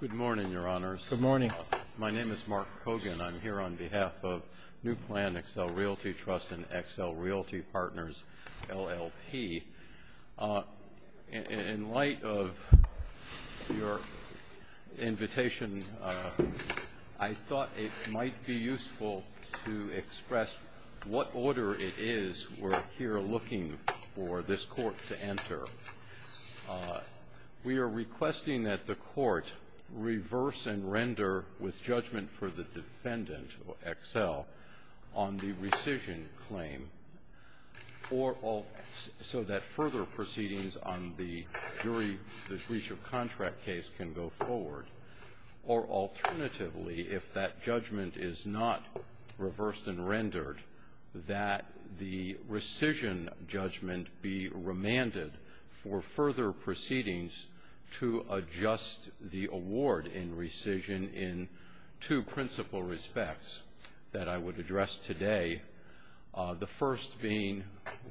Good morning, Your Honors. Good morning. My name is Mark Kogan. I'm here on behalf of NewPlan, Excel Realty Trust, and Excel Realty Partners, LLP. In light of your invitation, I thought it might be useful to express what order it is we're here looking for this court to enter. We are requesting that the court reverse and render with judgment for the defendant, Excel, on the rescission claim, so that further proceedings on the jury breach of contract case can go forward. Or alternatively, if that judgment is not reversed and rendered, that the rescission judgment be remanded for further proceedings to adjust the award in rescission in two principal respects that I would address today. The first being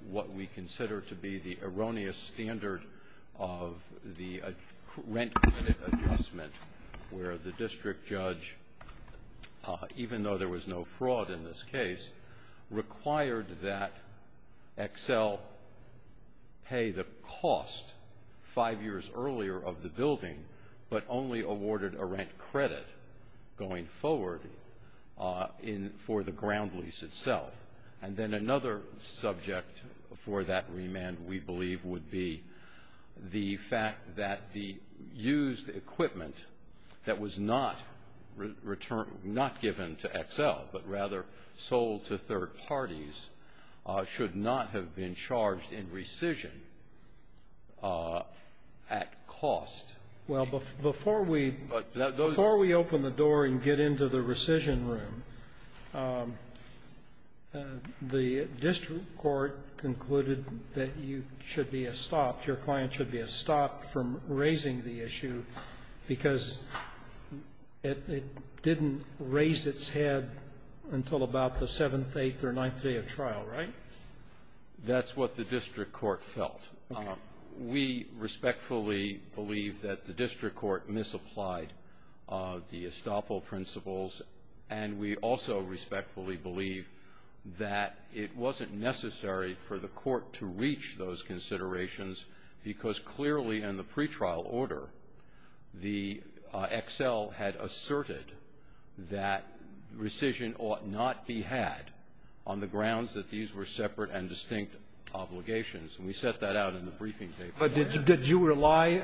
what we consider to be the erroneous standard of the rent credit adjustment, where the district judge, even though there was no fraud in this case, required that Excel pay the cost five years earlier of the building, but only awarded a rent credit going forward for the ground lease itself. And then another subject for that remand, we believe, would be the fact that the used equipment that was not returned, not given to Excel, but rather sold to third parties, should not have been charged in rescission at cost. Well, before we open the door and get into the rescission room, the district court concluded that you should be stopped, your client should be stopped from raising the issue, because it didn't raise its head until about the seventh, eighth, or ninth day of trial, right? That's what the district court felt. We respectfully believe that the district court misapplied the estoppel principles, and we also respectfully believe that it wasn't necessary for the court to reach those considerations, because clearly in the pretrial order, the Excel had asserted that rescission ought not be had on the grounds that these were separate and distinct obligations. And we set that out in the briefing paper. But did you rely,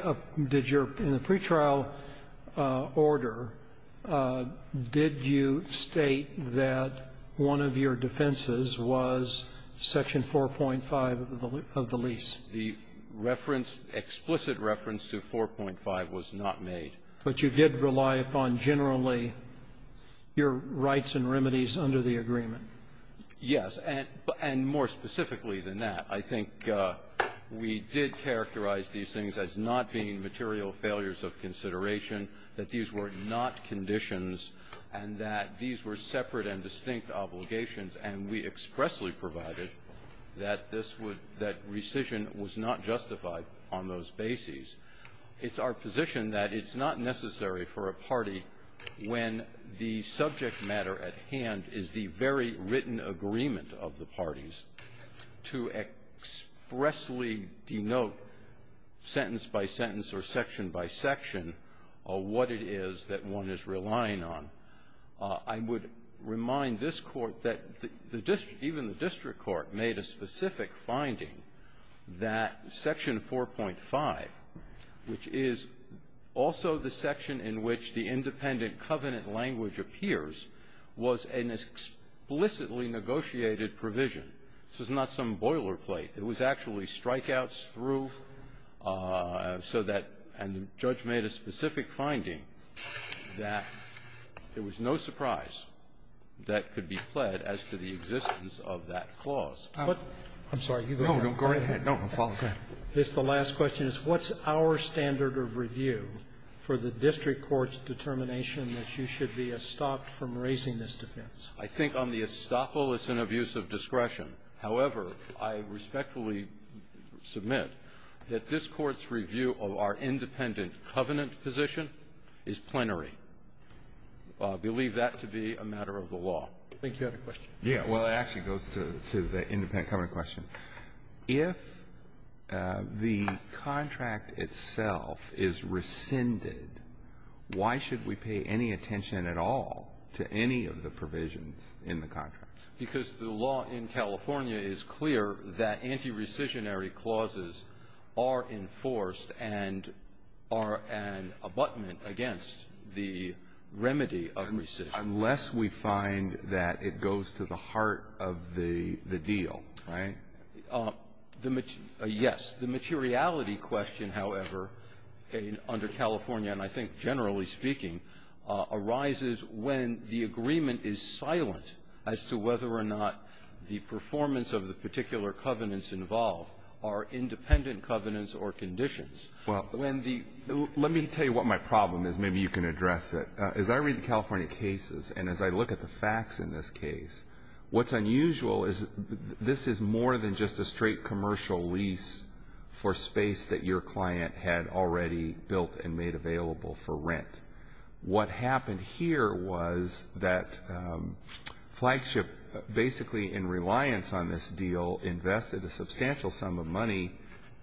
did your, in the pretrial order, did you state that one of your defenses was Section 4.5 of the lease? The reference, explicit reference to 4.5 was not made. But you did rely upon generally your rights and remedies under the agreement? Yes. And more specifically than that, I think we did characterize these things as not being material failures of consideration, that these were not conditions, and that these were separate and distinct obligations. And we expressly provided that this would, that rescission was not justified on those bases. It's our position that it's not necessary for a party, when the subject matter at hand is the very written agreement of the parties, to expressly denote sentence by sentence or section by section what it is that one is relying on. I would remind this Court that the district, even the district court, made a specific finding that Section 4.5, which is also the section in which the independent covenant language appears, was an explicitly negotiated provision. This was not some boilerplate. It was actually strikeouts through, so that, and the judge made a specific finding that it was no surprise that could be pled as to the existence of that clause. I'm sorry. You go ahead. No, go right ahead. No, I'll follow. Go ahead. This, the last question, is what's our standard of review for the district court's determination that you should be estopped from raising this defense? I think on the estoppel, it's an abuse of discretion. However, I respectfully submit that this Court's review of our independent covenant position is plenary. I believe that to be a matter of the law. I think you had a question. Yeah. Well, it actually goes to the independent covenant question. If the contract itself is rescinded, why should we pay any attention at all to any of the provisions in the contract? Because the law in California is clear that anti-rescissionary clauses are enforced and are an abutment against the remedy of rescission. Unless we find that it goes to the heart of the deal, right? Yes. The materiality question, however, under California, and I think generally speaking, arises when the agreement is silent as to whether or not the performance of the particular covenants involved are independent covenants or conditions. Well, let me tell you what my problem is. Maybe you can address it. As I read the California cases and as I look at the facts in this case, what's unusual is this is more than just a straight commercial lease for space that your What happened here was that Flagship, basically in reliance on this deal, invested a substantial sum of money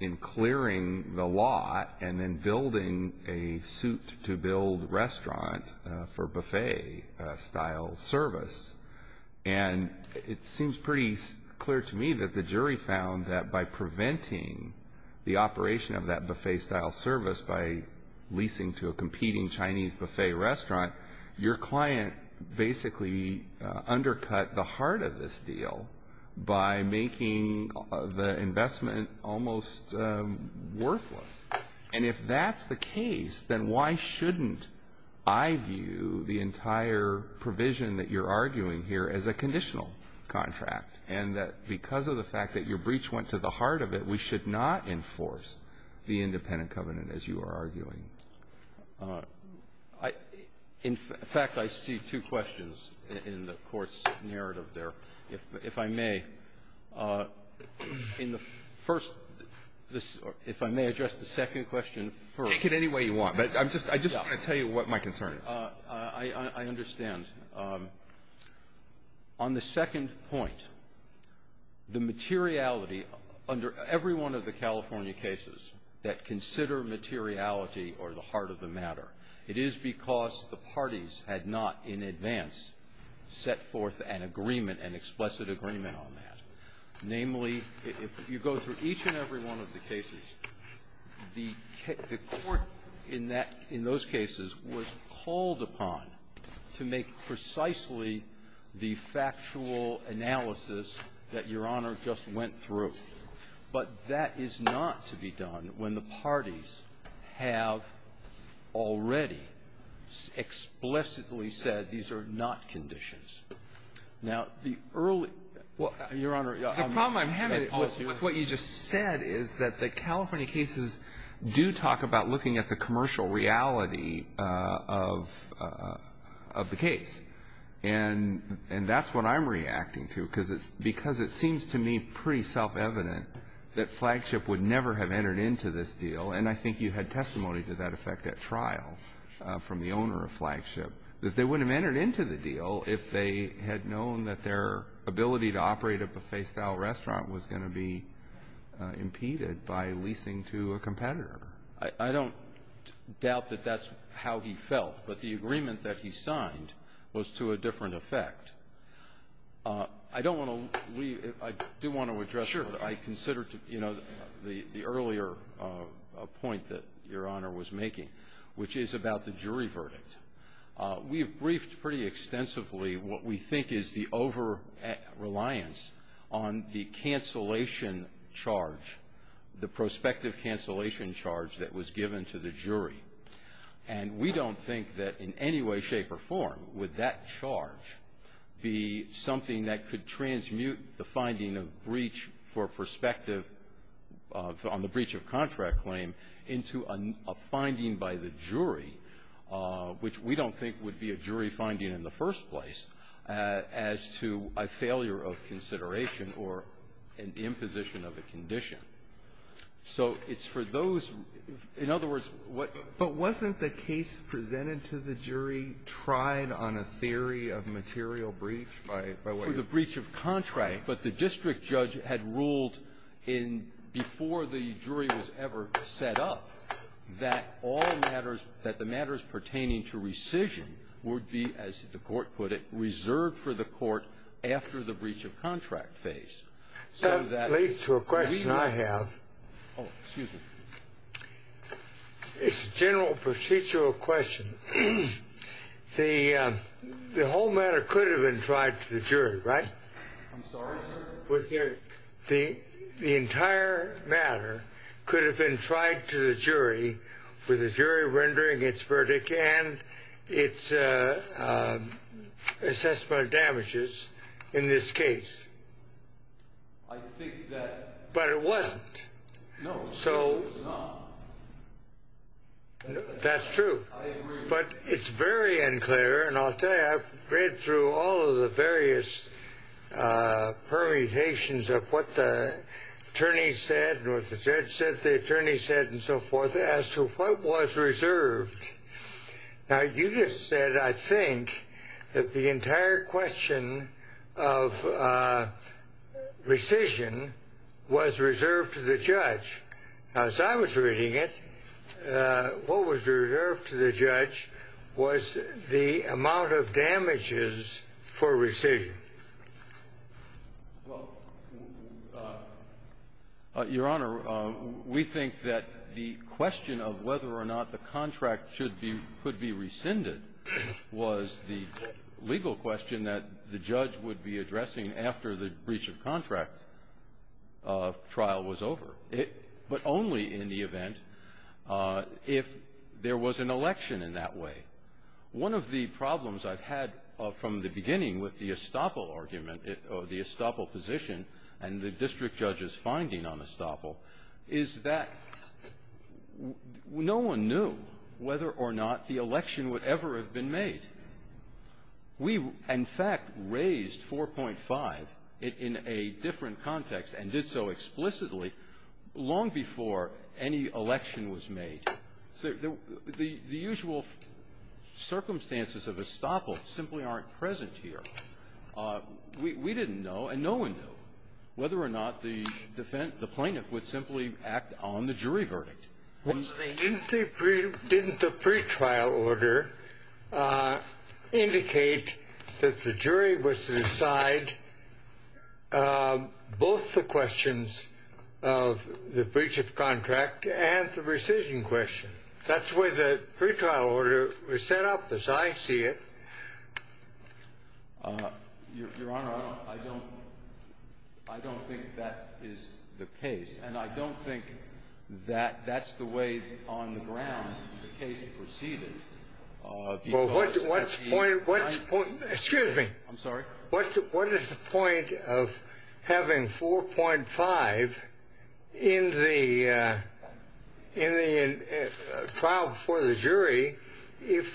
in clearing the lot and then building a suit to build restaurant for buffet-style service. And it seems pretty clear to me that the jury found that by preventing the operation of that buffet-style service by leasing to a competing Chinese buffet restaurant, your client basically undercut the heart of this deal by making the investment almost worthless. And if that's the case, then why shouldn't I view the entire provision that you're arguing here as a conditional contract? And that because of the fact that your breach went to the heart of it, we should not enforce the independent covenant, as you are arguing. In fact, I see two questions in the Court's narrative there. If I may, in the first, if I may address the second question first. Take it any way you want, but I just want to tell you what my concern is. I understand. On the second point, the materiality under every one of the California cases that consider materiality are the heart of the matter. It is because the parties had not in advance set forth an agreement, an explicit agreement on that. Namely, if you go through each and every one of the cases, the court in that, in those cases, was called upon to make precisely the factual analysis that Your Honor just went through. But that is not to be done when the parties have already explicitly said these are not conditions. Now, the early — well, Your Honor, I'm sorry. The problem I'm having with what you just said is that the California cases do talk about looking at the commercial reality of the case. And that's what I'm reacting to, because it seems to me pretty self-evident that Flagship would never have entered into this deal. And I think you had testimony to that effect at trial from the owner of Flagship, that they wouldn't have entered into the deal if they had known that their ability to operate a buffet-style restaurant was going to be impeded by leasing to a competitor. I don't doubt that that's how he felt. But the agreement that he signed was to a different effect. I don't want to leave — I do want to address what I considered to be, you know, the earlier point that Your Honor was making, which is about the jury verdict. We've briefed pretty extensively what we think is the over-reliance on the cancellation charge, the prospective cancellation charge that was given to the jury. And we don't think that in any way, shape or form, would that charge be something that could transmute the finding of breach for prospective — on the breach of contract claim into a finding by the jury, which we don't think would be a jury finding in the first place, as to a failure of consideration or an imposition of a condition. So it's for those — in other words, what — But wasn't the case presented to the jury tried on a theory of material breach by — For the breach of contract, but the district judge had ruled in — before the jury was ever set up that all matters — that the matters pertaining to rescission would be, as the Court put it, reserved for the Court after the breach of contract phase. So that — That leads to a question I have. Oh, excuse me. It's a general procedural question. The whole matter could have been tried to the jury, right? I'm sorry, sir? The entire matter could have been tried to the jury, with the jury rendering its verdict and its assessment of damages in this case. I think that — But it wasn't. No. So — It was not. That's true. I agree. But it's very unclear, and I'll tell you, I've read through all of the various permutations of what the attorney said and what the judge said, the attorney said, and so forth, as to what was reserved. Now, you just said, I think, that the entire question of rescission was reserved to the judge. Now, as I was reading it, what was reserved to the judge was the amount of damages for rescission. Well, Your Honor, we think that the question of whether or not the contract should be — could be rescinded was the legal question that the judge would be addressing after the breach of contract trial was over, but only in the event if there was an election in that way. One of the problems I've had from the beginning with the estoppel argument or the estoppel position and the district judge's finding on estoppel is that no one knew whether or not the election would ever have been made. We, in fact, raised 4.5 in a different context and did so explicitly long before any election was made. So the usual circumstances of estoppel simply aren't present here. We didn't know, and no one knew, whether or not the plaintiff would simply act on the jury verdict. Didn't the pretrial order indicate that the jury was to decide both the questions of the breach of contract and the rescission question? That's the way the pretrial order was set up, as I see it. Your Honor, I don't — I don't think that is the case, and I don't think that that's the way on the ground the case proceeded, because — Well, what's the point — what's the point — excuse me. I'm sorry? What is the point of having 4.5 in the — in the trial before the jury if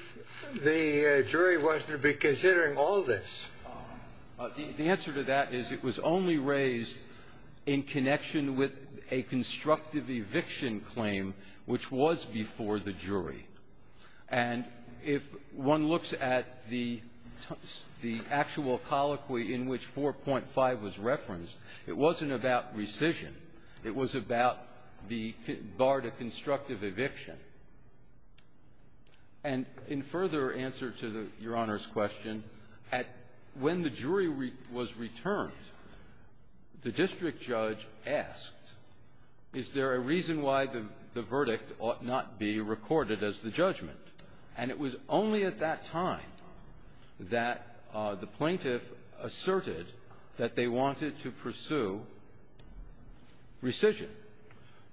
the jury wasn't to be considering all this? The answer to that is it was only raised in connection with a constructive eviction which was before the jury. And if one looks at the actual colloquy in which 4.5 was referenced, it wasn't about rescission. It was about the bar to constructive eviction. And in further answer to Your Honor's question, when the jury was returned, the district judge asked, is there a reason why the verdict ought not be recorded as the judgment? And it was only at that time that the plaintiff asserted that they wanted to pursue rescission.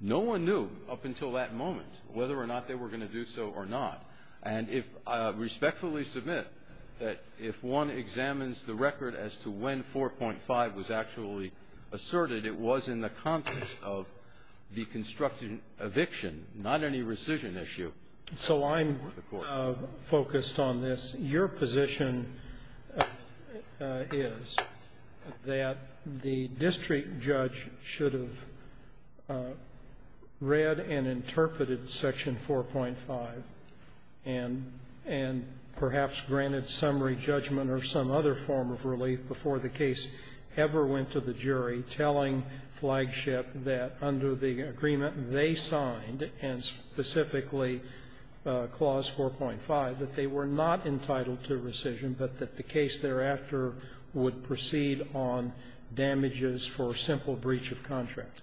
No one knew up until that moment whether or not they were going to do so or not. And if — I respectfully submit that if one examines the record as to when 4.5 was actually asserted, it was in the context of the constructive eviction, not any rescission issue. So I'm focused on this. Your position is that the district judge should have read and interpreted Section 4.5 and perhaps granted summary judgment or some other form of relief before the case ever went to the jury, telling Flagship that under the agreement they signed, and specifically Clause 4.5, that they were not entitled to rescission but that the case thereafter would proceed on damages for simple breach of contract?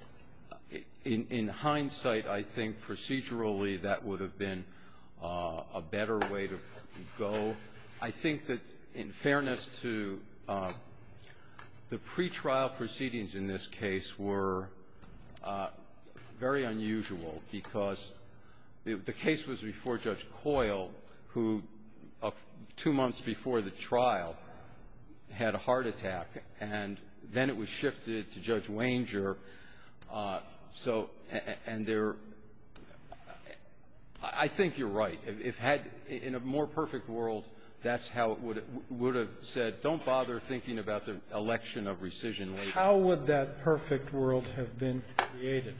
In hindsight, I think procedurally that would have been a better way to go. I think that in fairness to the pretrial proceedings in this case were very unusual, because the case was before Judge Coyle, who two months before the trial had a heart attack, and then it was shifted to Judge Wanger. So — and there — I think you're right. If it had — in a more perfect world, that's how it would have said, don't bother thinking about the election of rescission later. How would that perfect world have been created?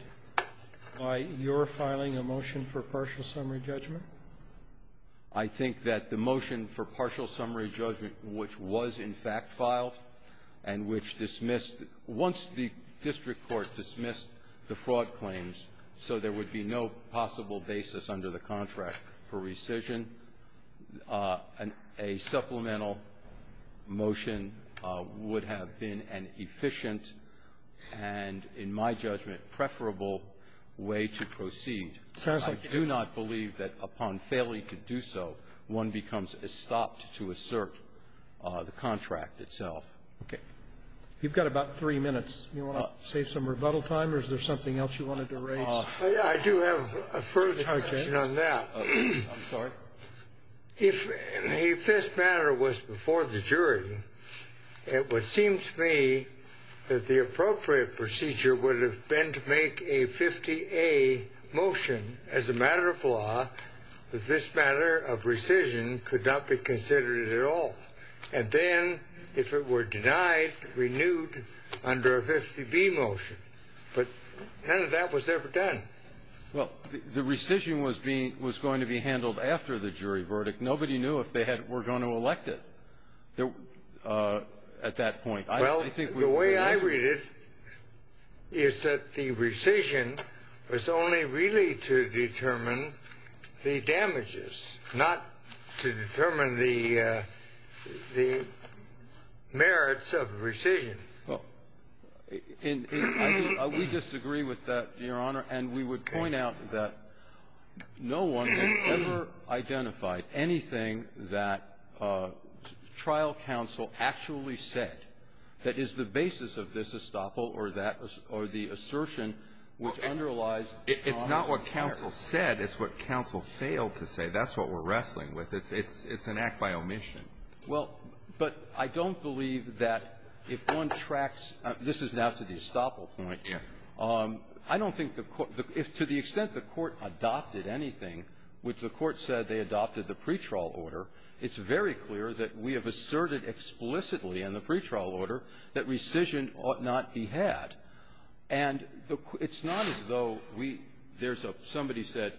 By your filing a motion for partial summary judgment? I think that the motion for partial summary judgment, which was in fact filed and which dismissed — once the district court dismissed the fraud claims so there would be no possible basis under the contract for rescission, a supplemental motion would have been an efficient and, in my judgment, preferable way to proceed. I do not believe that upon failure you could do so one becomes stopped to assert the contract itself. Okay. You've got about three minutes. You want to save some rebuttal time, or is there something else you wanted to raise? I do have a further question on that. I'm sorry. If this matter was before the jury, it would seem to me that the appropriate procedure would have been to make a 50A motion as a matter of law that this matter of rescission could not be considered at all. And then if it were denied, renewed under a 50B motion. But none of that was ever done. Well, the rescission was going to be handled after the jury verdict. Nobody knew if they were going to elect it at that point. Well, the way I read it is that the rescission was only really to determine the damages, not to determine the merits of rescission. Well, we disagree with that, Your Honor. And we would point out that no one has ever identified anything that trial counsel actually said that is the basis of this estoppel or that or the assertion which underlies It's not what counsel said. It's what counsel failed to say. That's what we're wrestling with. It's an act by omission. Well, but I don't believe that if one tracks this is now to the estoppel point. Yeah. I don't think the court if to the extent the court adopted anything, which the court said they adopted the pretrial order, it's very clear that we have asserted explicitly in the pretrial order that rescission ought not be had. And it's not as though we there's a somebody said,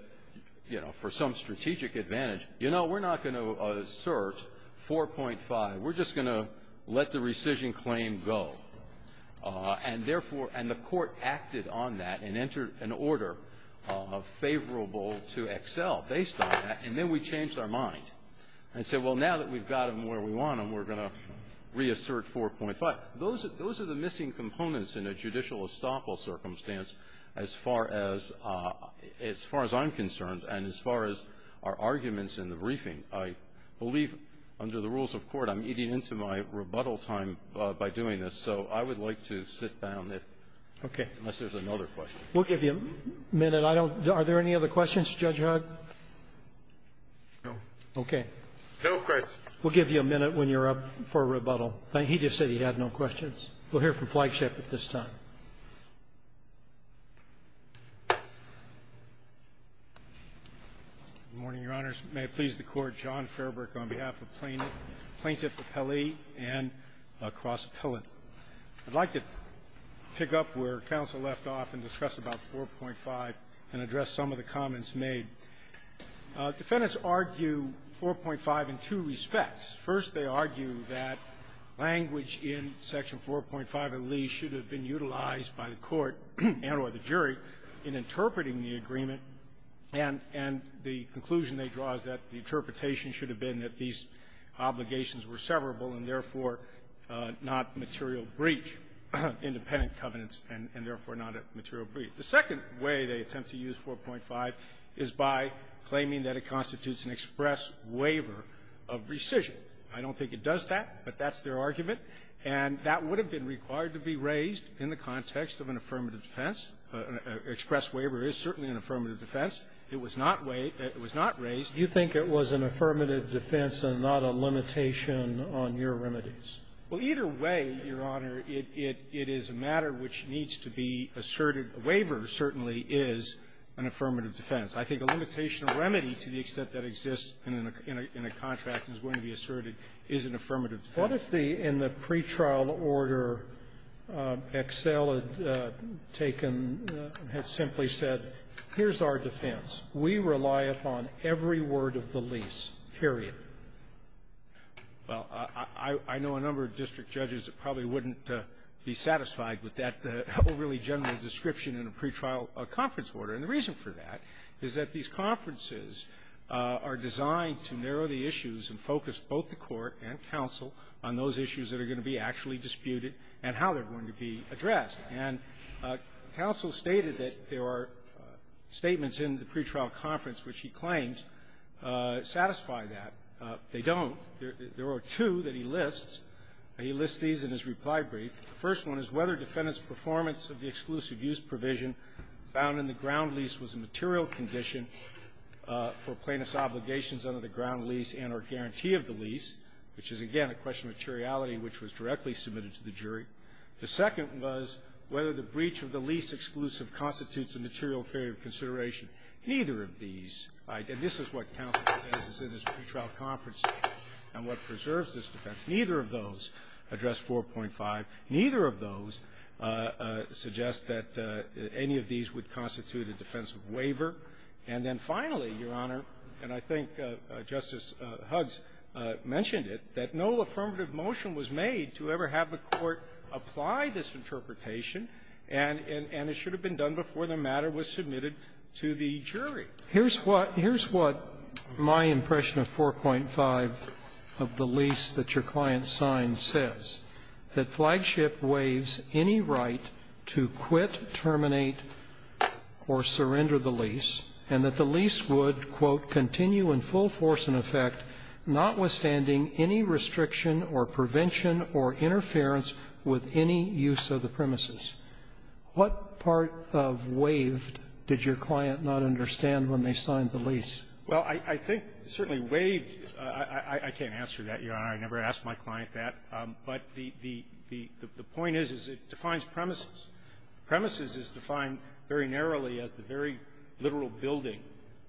you know, for some strategic advantage, you know, we're not going to assert 4.5. We're just going to let the rescission claim go. And therefore, and the court acted on that and entered an order favorable to excel based on that. And then we changed our mind and said, well, now that we've got them where we want them, we're going to reassert 4.5. Those are the missing components in a judicial estoppel circumstance as far as I'm concerned and as far as our arguments in the briefing. I believe under the rules of court, I'm eating into my rebuttal time by doing this. So I would like to sit down if unless there's another question. Okay. We'll give you a minute. I don't know. Are there any other questions, Judge Hugg? No. Okay. No questions. We'll give you a minute when you're up for rebuttal. He just said he had no questions. We'll hear from Flagship at this time. Good morning, Your Honors. May it please the Court. John Fairbrook on behalf of Plaintiff Appellee and Cross Appellant. I'd like to pick up where counsel left off and discuss about 4.5 and address some of the comments made. Defendants argue 4.5 in two respects. First, they argue that language in Section 4.5 of the lease should have been utilized by the court and or the jury in interpreting the agreement, and the conclusion they draw is that the interpretation should have been that these obligations were severable and therefore not material breach, independent covenants, and therefore not a material breach. The second way they attempt to use 4.5 is by claiming that it constitutes an express waiver of rescission. I don't think it does that, but that's their argument. And that would have been required to be raised in the context of an affirmative defense. An express waiver is certainly an affirmative defense. It was not raised. Do you think it was an affirmative defense and not a limitation on your remedies? Well, either way, Your Honor, it is a matter which needs to be asserted. A waiver certainly is an affirmative defense. I think a limitation or remedy to the extent that exists in a contract and is going to be asserted is an affirmative defense. What if the pre-trial order Excel had taken, had simply said, here's our defense. We rely upon every word of the lease, period. Well, I know a number of district judges that probably wouldn't be satisfied with that overly general description in a pre-trial conference order. And the reason for that is that these conferences are designed to narrow the issues and focus both the Court and counsel on those issues that are going to be actually disputed and how they're going to be addressed. And counsel stated that there are statements in the pre-trial conference which he claimed satisfy that. They don't. There are two that he lists. He lists these in his reply brief. The first one is whether defendant's performance of the exclusive use provision found in the ground lease was a material condition for plaintiff's obligations under the ground lease and or guarantee of the lease, which is, again, a question of materiality which was directly submitted to the jury. The second was whether the breach of the lease exclusive constitutes a material failure of consideration. Neither of these idea this is what counsel says is in his pre-trial conference statement and what preserves this defense. Neither of those address 4.5. Neither of those suggest that any of these would constitute a defensive waiver. And then finally, Your Honor, and I think Justice Huggs mentioned it, that no affirmative motion was made to ever have the Court apply this interpretation, and it should have been done before the matter was submitted to the jury. Here's what my impression of 4.5 of the lease that your client signed says, that flagship waives any right to quit, terminate, or surrender the lease, and that the lease would, quote, continue in full force and effect, notwithstanding any restriction or prevention or interference with any use of the premises. What part of waived did your client not understand when they signed the lease? Well, I think certainly waived, I can't answer that, Your Honor. I never asked my client that. But the point is, is it defines premises. Premises is defined very narrowly as the very literal building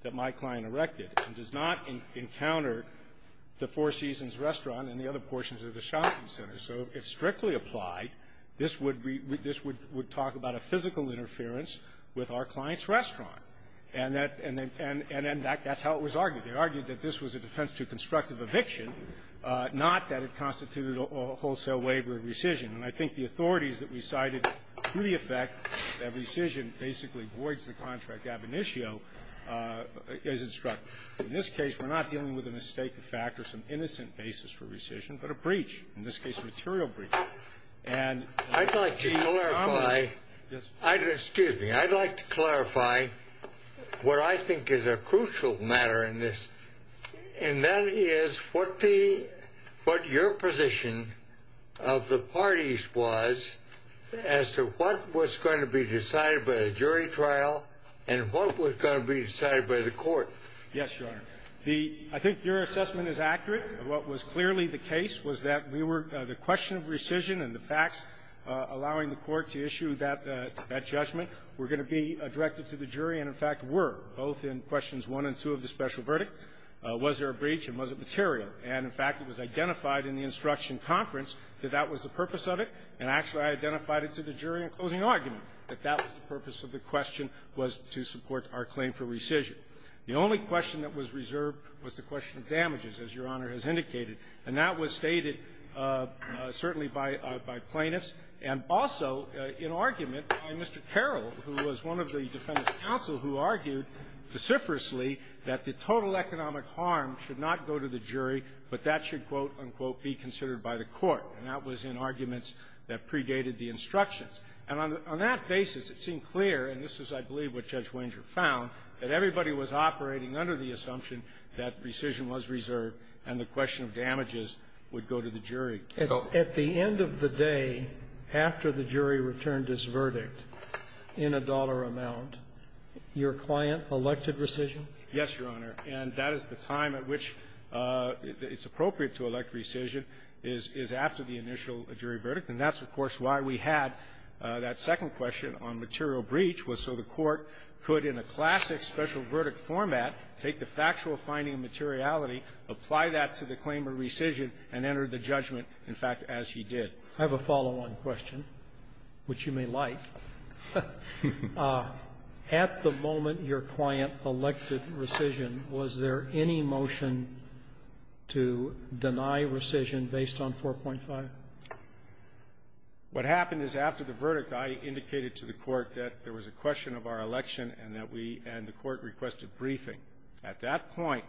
that my client erected and does not encounter the Four Seasons Restaurant and the other portions of the shopping center. So if strictly applied, this would be we this would would talk about a physical interference with our client's restaurant. And that's how it was argued. They argued that this was a defense to constructive eviction, not that it constituted a wholesale waiver of rescission. And I think the authorities that we cited to the effect that rescission basically voids the contract ab initio as instructed. In this case, we're not dealing with a mistake of fact or some innocent basis for rescission, but a breach. In this case, material breach. And I'd like to clarify, excuse me, I'd like to clarify what I think is a crucial matter in this, and that is what your position of the parties was as to what was going to be decided by a jury trial and what was going to be decided by the court. Yes, Your Honor. The — I think your assessment is accurate. What was clearly the case was that we were — the question of rescission and the facts allowing the court to issue that — that judgment were going to be directed to the jury and, in fact, were, both in questions 1 and 2 of the special verdict. Was there a breach, and was it material? And, in fact, it was identified in the instruction conference that that was the purpose of it, and actually I identified it to the jury in closing argument that that was the purpose of the question was to support our claim for rescission. The only question that was reserved was the question of damages, as Your Honor has indicated, and that was stated certainly by — by plaintiffs, and also in argument by Mr. Carroll, who was one of the defendants counsel, who argued vociferously that the total economic harm should not go to the jury, but that should, quote, unquote, be considered by the court. And that was in arguments that predated the instructions. And on that basis, it seemed clear, and this is, I believe, what Judge Wenger found, that everybody was operating under the assumption that rescission was reserved, and the question of damages would go to the jury. So at the end of the day, after the jury returned its verdict in a dollar amount, your client elected rescission? Yes, Your Honor. And that is the time at which it's appropriate to elect rescission is after the initial jury verdict, and that's, of course, why we had that second question on material breach, was so the court could, in a classic special verdict format, take the factual finding of materiality, apply that to the claim of rescission, and enter the judgment, in fact, as he did. I have a follow-on question, which you may like. At the moment your client elected rescission, was there any motion to deny rescission based on 4.5? What happened is after the verdict, I indicated to the Court that there was a question of our election and that we and the Court requested briefing. At that point,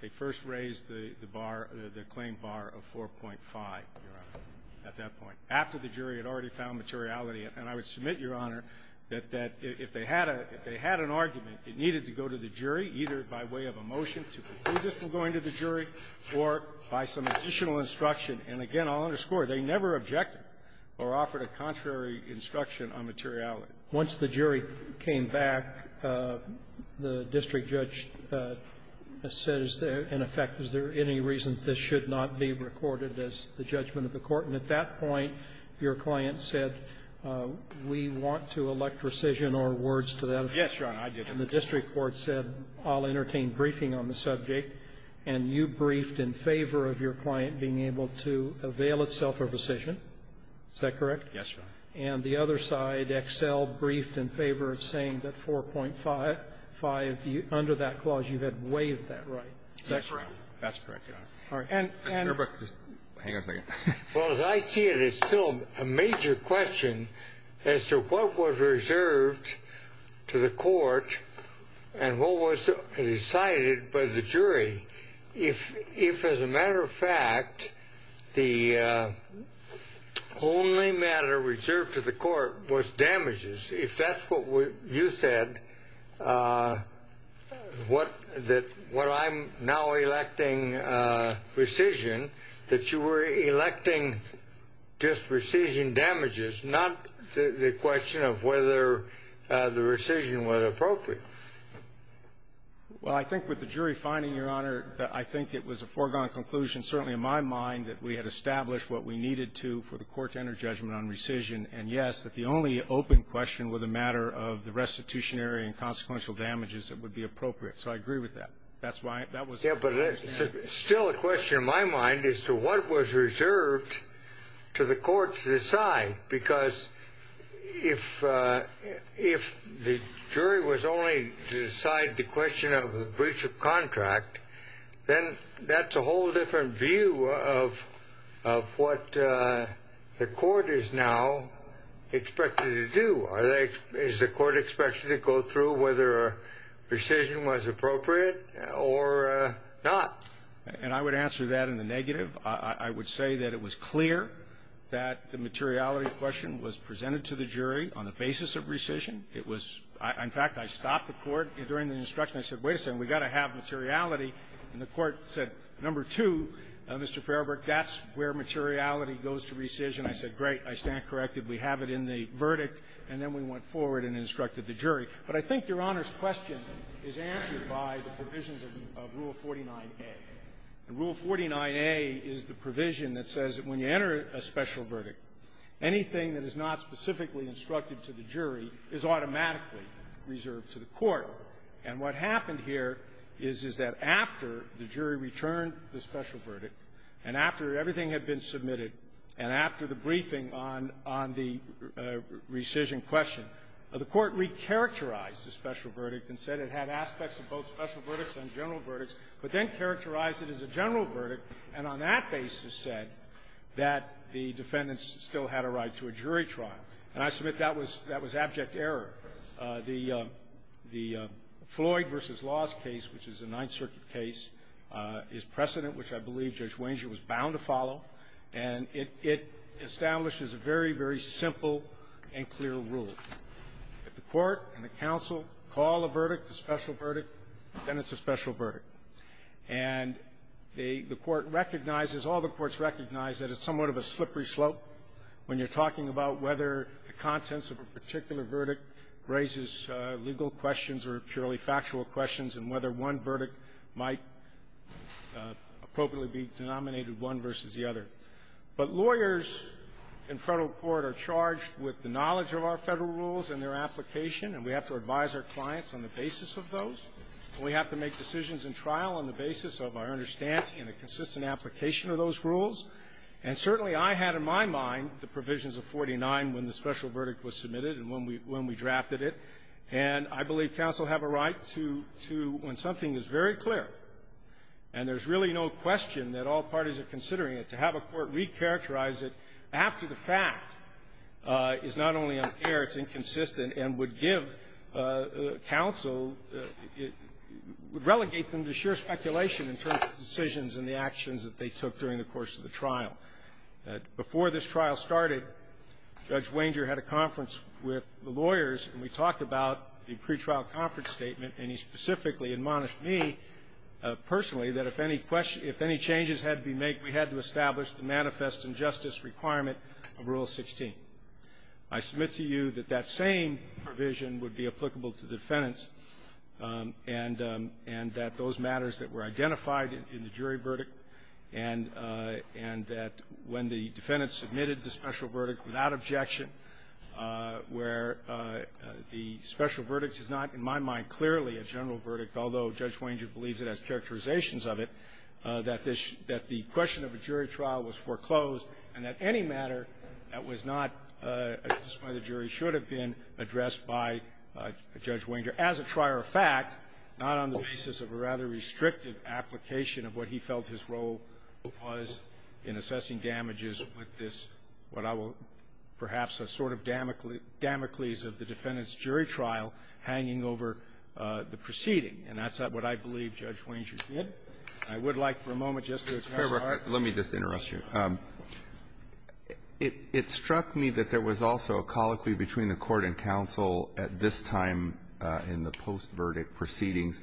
they first raised the bar, the claim bar of 4.5, Your Honor, at that point, after the jury had already found materiality. And I would submit, Your Honor, that if they had an argument, it needed to go to the jury, either by way of a motion to conclude this from going to the jury or by some additional instruction. And again, I'll underscore, they never objected or offered a contrary instruction on materiality. Once the jury came back, the district judge said, in effect, is there any reason this should not be recorded as the judgment of the Court? And at that point, your client said, we want to elect rescission or words to that effect. Yes, Your Honor, I did. And the district court said, I'll entertain briefing on the subject. And you briefed in favor of your client being able to avail itself of rescission. Is that correct? Yes, Your Honor. And the other side, Excel, briefed in favor of saying that 4.5, under that clause, you had waived that right. Is that correct? That's correct, Your Honor. All right. And as I see it, it's still a major question as to what was reserved to the Court and what was decided by the jury. If, as a matter of fact, the only matter reserved to the Court was damages, if that's what you said, what I'm now electing rescission, that you were Well, I think with the jury finding, Your Honor, I think it was a foregone conclusion, certainly in my mind, that we had established what we needed to for the Court to enter judgment on rescission. And, yes, that the only open question were the matter of the restitutionary and consequential damages that would be appropriate. So I agree with that. That's why that was the question. Yeah, but it's still a question in my mind as to what was reserved to the Court to decide. Because if the jury was only to decide the question of the breach of contract, then that's a whole different view of what the Court is now expected to do. Is the Court expected to go through whether rescission was appropriate or not? And I would answer that in the negative. I would say that it was clear that the materiality question was presented to the jury on the basis of rescission. It was — in fact, I stopped the Court during the instruction. I said, wait a second, we've got to have materiality. And the Court said, number two, Mr. Fairbairn, that's where materiality goes to rescission. I said, great. I stand corrected. We have it in the verdict. And then we went forward and instructed the jury. But I think Your Honor's question is answered by the provisions of Rule 49A. And Rule 49A is the provision that says that when you enter a special verdict, anything that is not specifically instructed to the jury is automatically reserved to the Court. And what happened here is, is that after the jury returned the special verdict, and after everything had been submitted, and after the briefing on the rescission question, the Court recharacterized the special verdict and said it had aspects of both special verdicts and general verdicts, but then characterized it as a general verdict, and on that basis said that the defendants still had a right to a jury trial. And I submit that was — that was abject error. The Floyd v. Laws case, which is a Ninth Circuit case, is precedent, which I believe Judge Wenger was bound to follow, and it establishes a very, very simple and clear rule. If the Court and the counsel call a verdict a special verdict, then it's a special verdict. And the Court recognizes, all the courts recognize, that it's somewhat of a slippery slope when you're talking about whether the contents of a particular verdict raises legal questions or purely factual questions, and whether one verdict might appropriately be denominated one versus the other. But lawyers in Federal rules and their application, and we have to advise our clients on the basis of those. We have to make decisions in trial on the basis of our understanding and a consistent application of those rules. And certainly, I had in my mind the provisions of 49 when the special verdict was submitted and when we drafted it. And I believe counsel have a right to — to, when something is very clear and there's really no question that all parties are considering it, to have a court recharacterize it after the fact is not only unfair, it's inconsistent, and would give counsel — would relegate them to sheer speculation in terms of decisions and the actions that they took during the course of the trial. Before this trial started, Judge Wenger had a conference with the lawyers, and we talked about the pretrial conference statement, and he specifically admonished me personally that if any — if any changes had to be made, we had to establish the manifest injustice requirement of Rule 16. I submit to you that that same provision would be applicable to the defendants and — and that those matters that were identified in the jury verdict and — and that when the defendants submitted the special verdict without objection, where the special verdict is not, in my mind, clearly a general verdict, although Judge Wenger did say that the question of a jury trial was foreclosed and that any matter that was not addressed by the jury should have been addressed by Judge Wenger, as a trier of fact, not on the basis of a rather restrictive application of what he felt his role was in assessing damages with this — what I will — perhaps a sort of damocles of the defendant's jury trial hanging over the proceeding. And that's not what I believe Judge Wenger did. I would like for a moment just to address our — Roberts, let me just interrupt you. It — it struck me that there was also a colloquy between the Court and counsel at this time in the post-verdict proceedings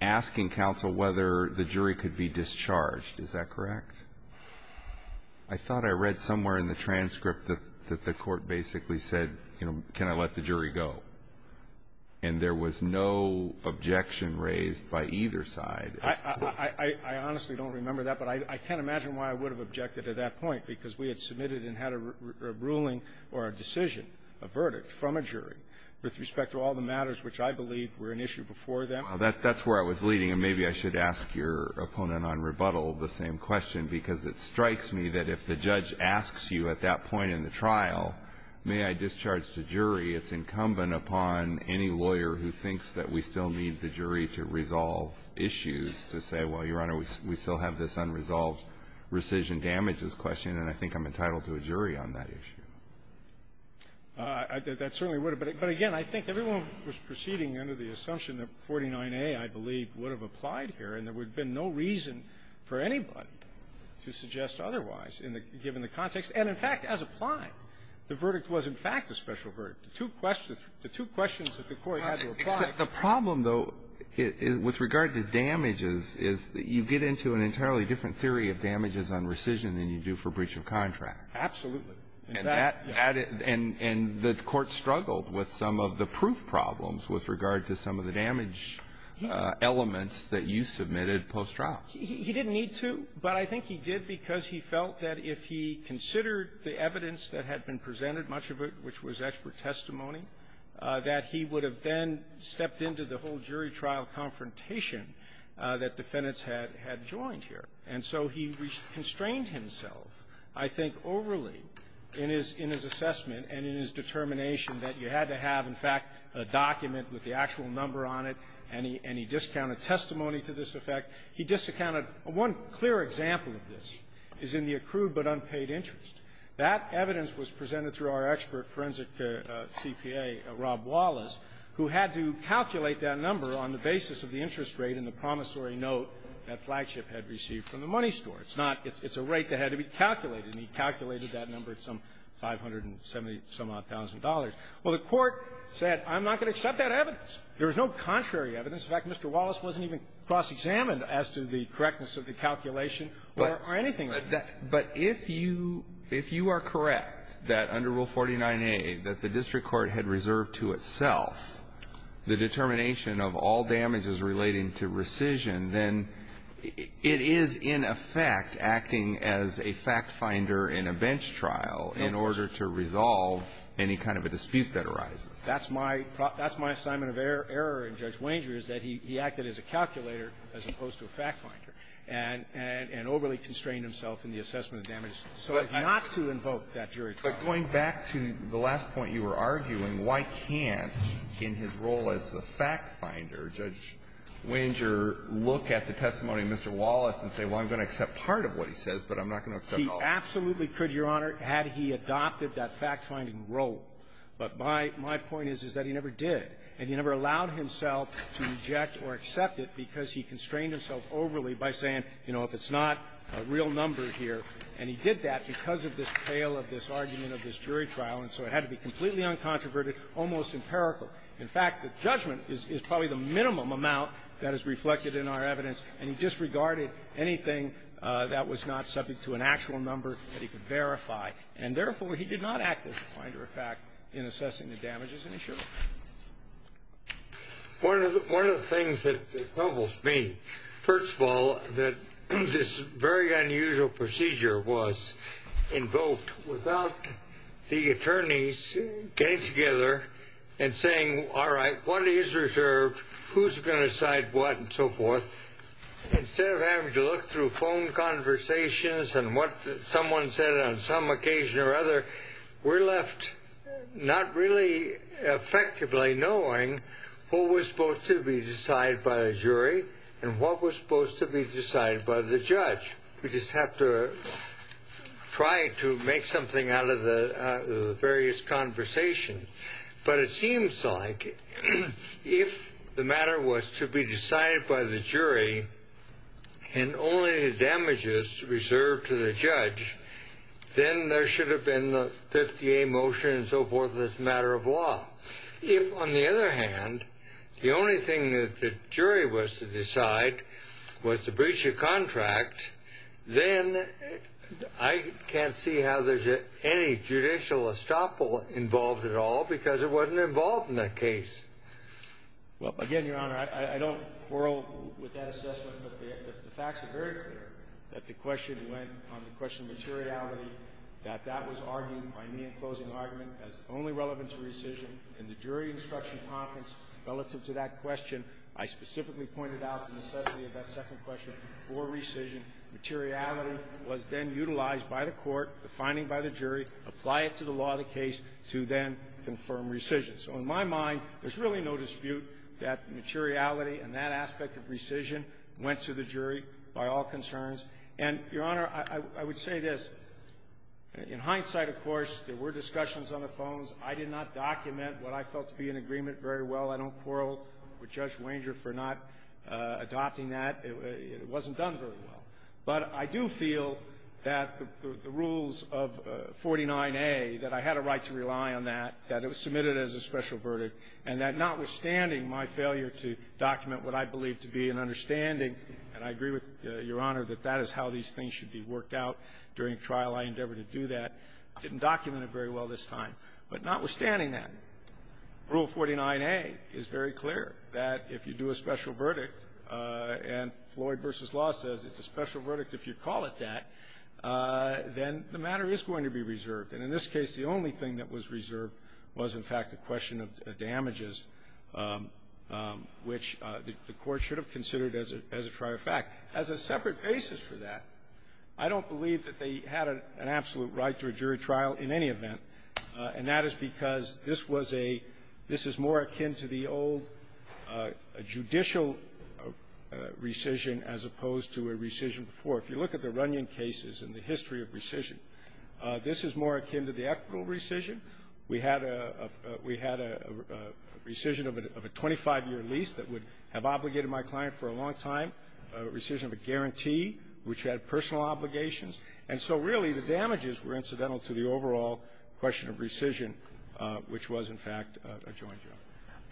asking counsel whether the jury could be discharged. Is that correct? I thought I read somewhere in the transcript that — that the court basically said, you know, can I let the jury go? And there was no objection raised by either side. I — I honestly don't remember that, but I can't imagine why I would have objected at that point, because we had submitted and had a ruling or a decision, a verdict from a jury with respect to all the matters which I believe were an issue before them. Well, that's where I was leading, and maybe I should ask your opponent on rebuttal the same question, because it strikes me that if the judge asks you at that point in the trial, may I discharge the jury, it's incumbent upon any lawyer who thinks that we still need the jury to resolve issues to say, well, Your Honor, we still have this unresolved rescission damages question, and I think I'm entitled to a jury on that issue. That certainly would have. But again, I think everyone was proceeding under the assumption that 49A, I believe, would have applied here, and there would have been no reason for anybody to suggest otherwise, given the context. And, in fact, as applied, the verdict was, in fact, a special verdict. The two questions that the Court had to apply. The problem, though, with regard to damages is that you get into an entirely different theory of damages on rescission than you do for breach of contract. Absolutely. And that — and the Court struggled with some of the proof problems with regard to some of the damage elements that you submitted post-trial. He didn't need to, but I think he did because he felt that if he considered the evidence that had been presented, much of it which was expert testimony, that he would have then stepped into the whole jury trial confrontation that defendants had joined here. And so he constrained himself, I think, overly in his assessment and in his determination that you had to have, in fact, a document with the actual number on it, and he — and he discounted testimony to this effect. He discounted — one clear example of this is in the accrued but unpaid interest. That evidence was presented through our expert forensic CPA, Rob Wallace, who had to calculate that number on the basis of the interest rate and the promissory note that Flagship had received from the money store. It's not — it's a rate that had to be calculated, and he calculated that number at some 570-some-odd thousand dollars. Well, the Court said, I'm not going to accept that evidence. There was no contrary evidence. In fact, Mr. Wallace wasn't even cross-examined as to the correctness of the calculation or anything like that. But if you — if you are correct that under Rule 49a, that the district court had reserved to itself the determination of all damages relating to rescission, then it is, in effect, acting as a fact-finder in a bench trial in order to resolve any kind of a dispute that arises. That's my — that's my assignment of error in Judge Wenger is that he acted as a calculator as opposed to a fact-finder and overly constrained himself in the assessment of damages so as not to invoke that jury trial. But going back to the last point you were arguing, why can't, in his role as the fact-finder, Judge Wenger look at the testimony of Mr. Wallace and say, well, I'm going to accept part of what he says, but I'm not going to accept all of it? He absolutely could, Your Honor, had he adopted that fact-finding role. But my — my point is, is that he never did. And he never allowed himself to reject or accept it because he constrained himself overly by saying, you know, if it's not a real number here. And he did that because of this tale of this argument of this jury trial. And so it had to be completely uncontroverted, almost empirical. In fact, the judgment is probably the minimum amount that is reflected in our evidence. And he disregarded anything that was not subject to an actual number that he could verify. And therefore, he did not act as a fact-finder in assessing the damages, and he should have. One of the — one of the things that troubles me, first of all, that this very unusual procedure was invoked without the attorneys getting together and saying, all right, what is reserved, who's going to decide what, and so forth. So instead of having to look through phone conversations and what someone said on some occasion or other, we're left not really effectively knowing what was supposed to be decided by a jury and what was supposed to be decided by the judge. We just have to try to make something out of the various conversations. But it seems like if the matter was to be decided by the jury and only the damages reserved to the judge, then there should have been the 50-A motion and so forth as a matter of law. If, on the other hand, the only thing that the jury was to decide was the breach of contract, then I can't see how there's any judicial estoppel involved at all because it wasn't involved in that case. Well, again, Your Honor, I don't quarrel with that assessment, but the facts are very clear that the question went on the question of materiality, that that was argued by me in closing argument as only relevant to rescission. In the jury instruction conference relative to that question, I specifically pointed out the necessity of that second question for rescission. Materiality was then utilized by the court, the finding by the jury, apply it to the law of the case to then confirm rescission. So in my mind, there's really no dispute that materiality and that aspect of rescission went to the jury by all concerns. And, Your Honor, I would say this. In hindsight, of course, there were discussions on the phones. I did not document what I felt to be an agreement very well. I don't quarrel with Judge Wanger for not adopting that. It wasn't done very well. But I do feel that the rules of 49A, that I had a right to rely on that, that it was submitted as a special verdict, and that notwithstanding my failure to document what I believed to be an understanding, and I agree with Your Honor that that is how these things should be worked out during trial, I endeavored to do that, didn't document it very well this time. But notwithstanding that, Rule 49A is very clear, that if you do a special verdict and Floyd v. Law says it's a special verdict if you call it that, then the matter is going to be reserved. And in this case, the only thing that was reserved was, in fact, the question of damages, which the court should have considered as a prior fact. As a separate basis for that, I don't believe that they had an absolute right to a jury trial in any event, and that is because this was a — this is more akin to the old judicial rescission as opposed to a rescission before. If you look at the Runyon cases and the history of rescission, this is more akin to the equitable rescission. We had a — we had a rescission of a 25-year lease that would have obligated my client for a long time, a rescission of a guarantee, which had personal obligations. And so, really, the damages were incidental to the overall question of rescission, which was, in fact, a joint jury.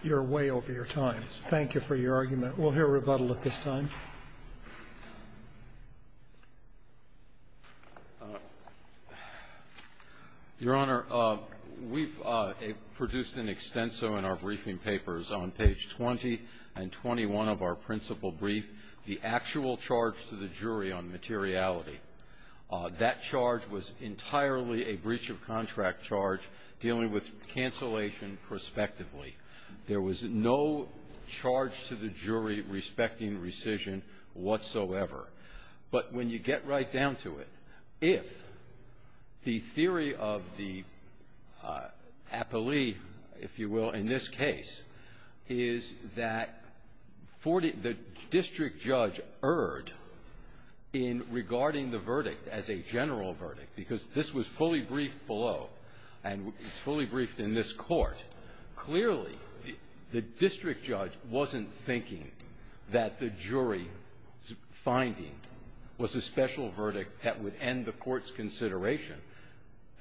You're way over your time. Thank you for your argument. We'll hear rebuttal at this time. Your Honor, we've produced an extenso in our briefing papers on page 20 and 21 of our principal brief, the actual charge to the jury on materiality. That charge was entirely a breach-of-contract charge dealing with cancellation prospectively. There was no charge to the jury respecting rescission whatsoever. But when you get right down to it, if the theory of the appellee, if you will, in this case, is that 40 — the district judge erred in regarding the verdict as a general verdict, because this was fully briefed below, and it's fully briefed in this Court, clearly, the district judge wasn't thinking that the jury's finding was a special verdict that would end the Court's consideration.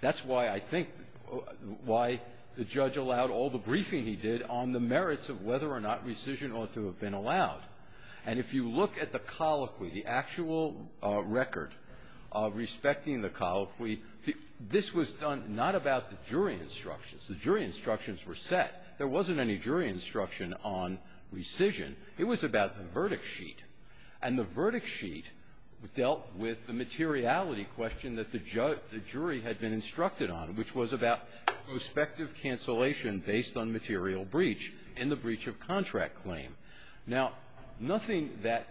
That's why I think — why the judge allowed all the briefing he did on the merits of whether or not rescission ought to have been allowed. And if you look at the colloquy, the actual record respecting the colloquy, this was done not about the jury instructions. The jury instructions were set. There wasn't any jury instruction on rescission. It was about the verdict sheet. And the verdict sheet dealt with the materiality question that the jury had been instructed on, which was about prospective cancellation based on material breach in the breach of contract claim. Now, nothing that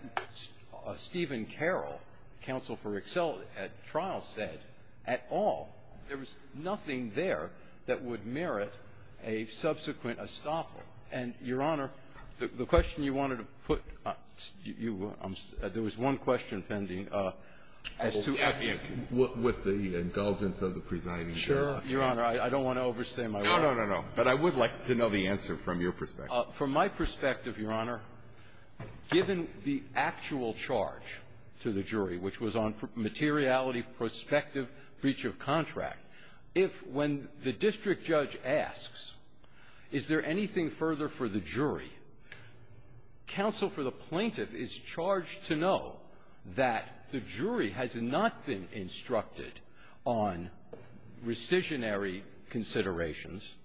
Stephen Carroll, counsel for excellence at trial, said at all. There was nothing there that would merit a subsequent estoppel. And, Your Honor, the question you wanted to put — you were — there was one question pending as to — Well, I mean, with the indulgence of the presiding jury. Your Honor, I don't want to overstay my welcome. No, no, no, no, no. But I would like to know the answer from your perspective. From my perspective, Your Honor, given the actual charge to the jury, which was on materiality, prospective breach of contract, if, when the district judge asks, is there anything further for the jury, counsel for the plaintiff is charged to know that the jury has not been instructed on rescissionary considerations, and the jury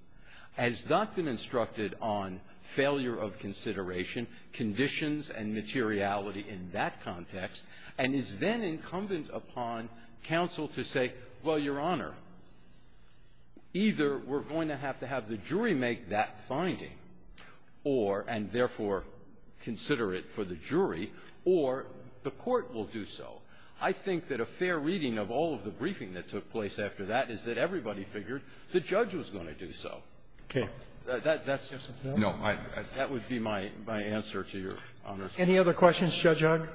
has not been instructed on failure of consideration, conditions, and materiality in that context, and is then incumbent upon counsel to say, well, Your Honor, either we're going to have to have the jury make that finding or — and therefore consider it for the jury, or the court will do so. I think that a fair reading of all of the briefing that took place after that is that everybody figured the judge was going to do so. Okay. That's my answer to Your Honor. Any other questions, Judge Huck?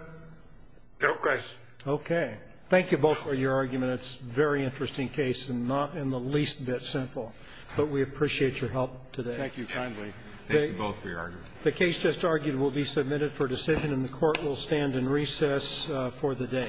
No questions. Okay. Thank you both for your argument. It's a very interesting case, and not in the least bit simple. But we appreciate your help today. Thank you kindly. Thank you both for your argument. The case just argued will be submitted for decision, and the Court will stand in recess for the day.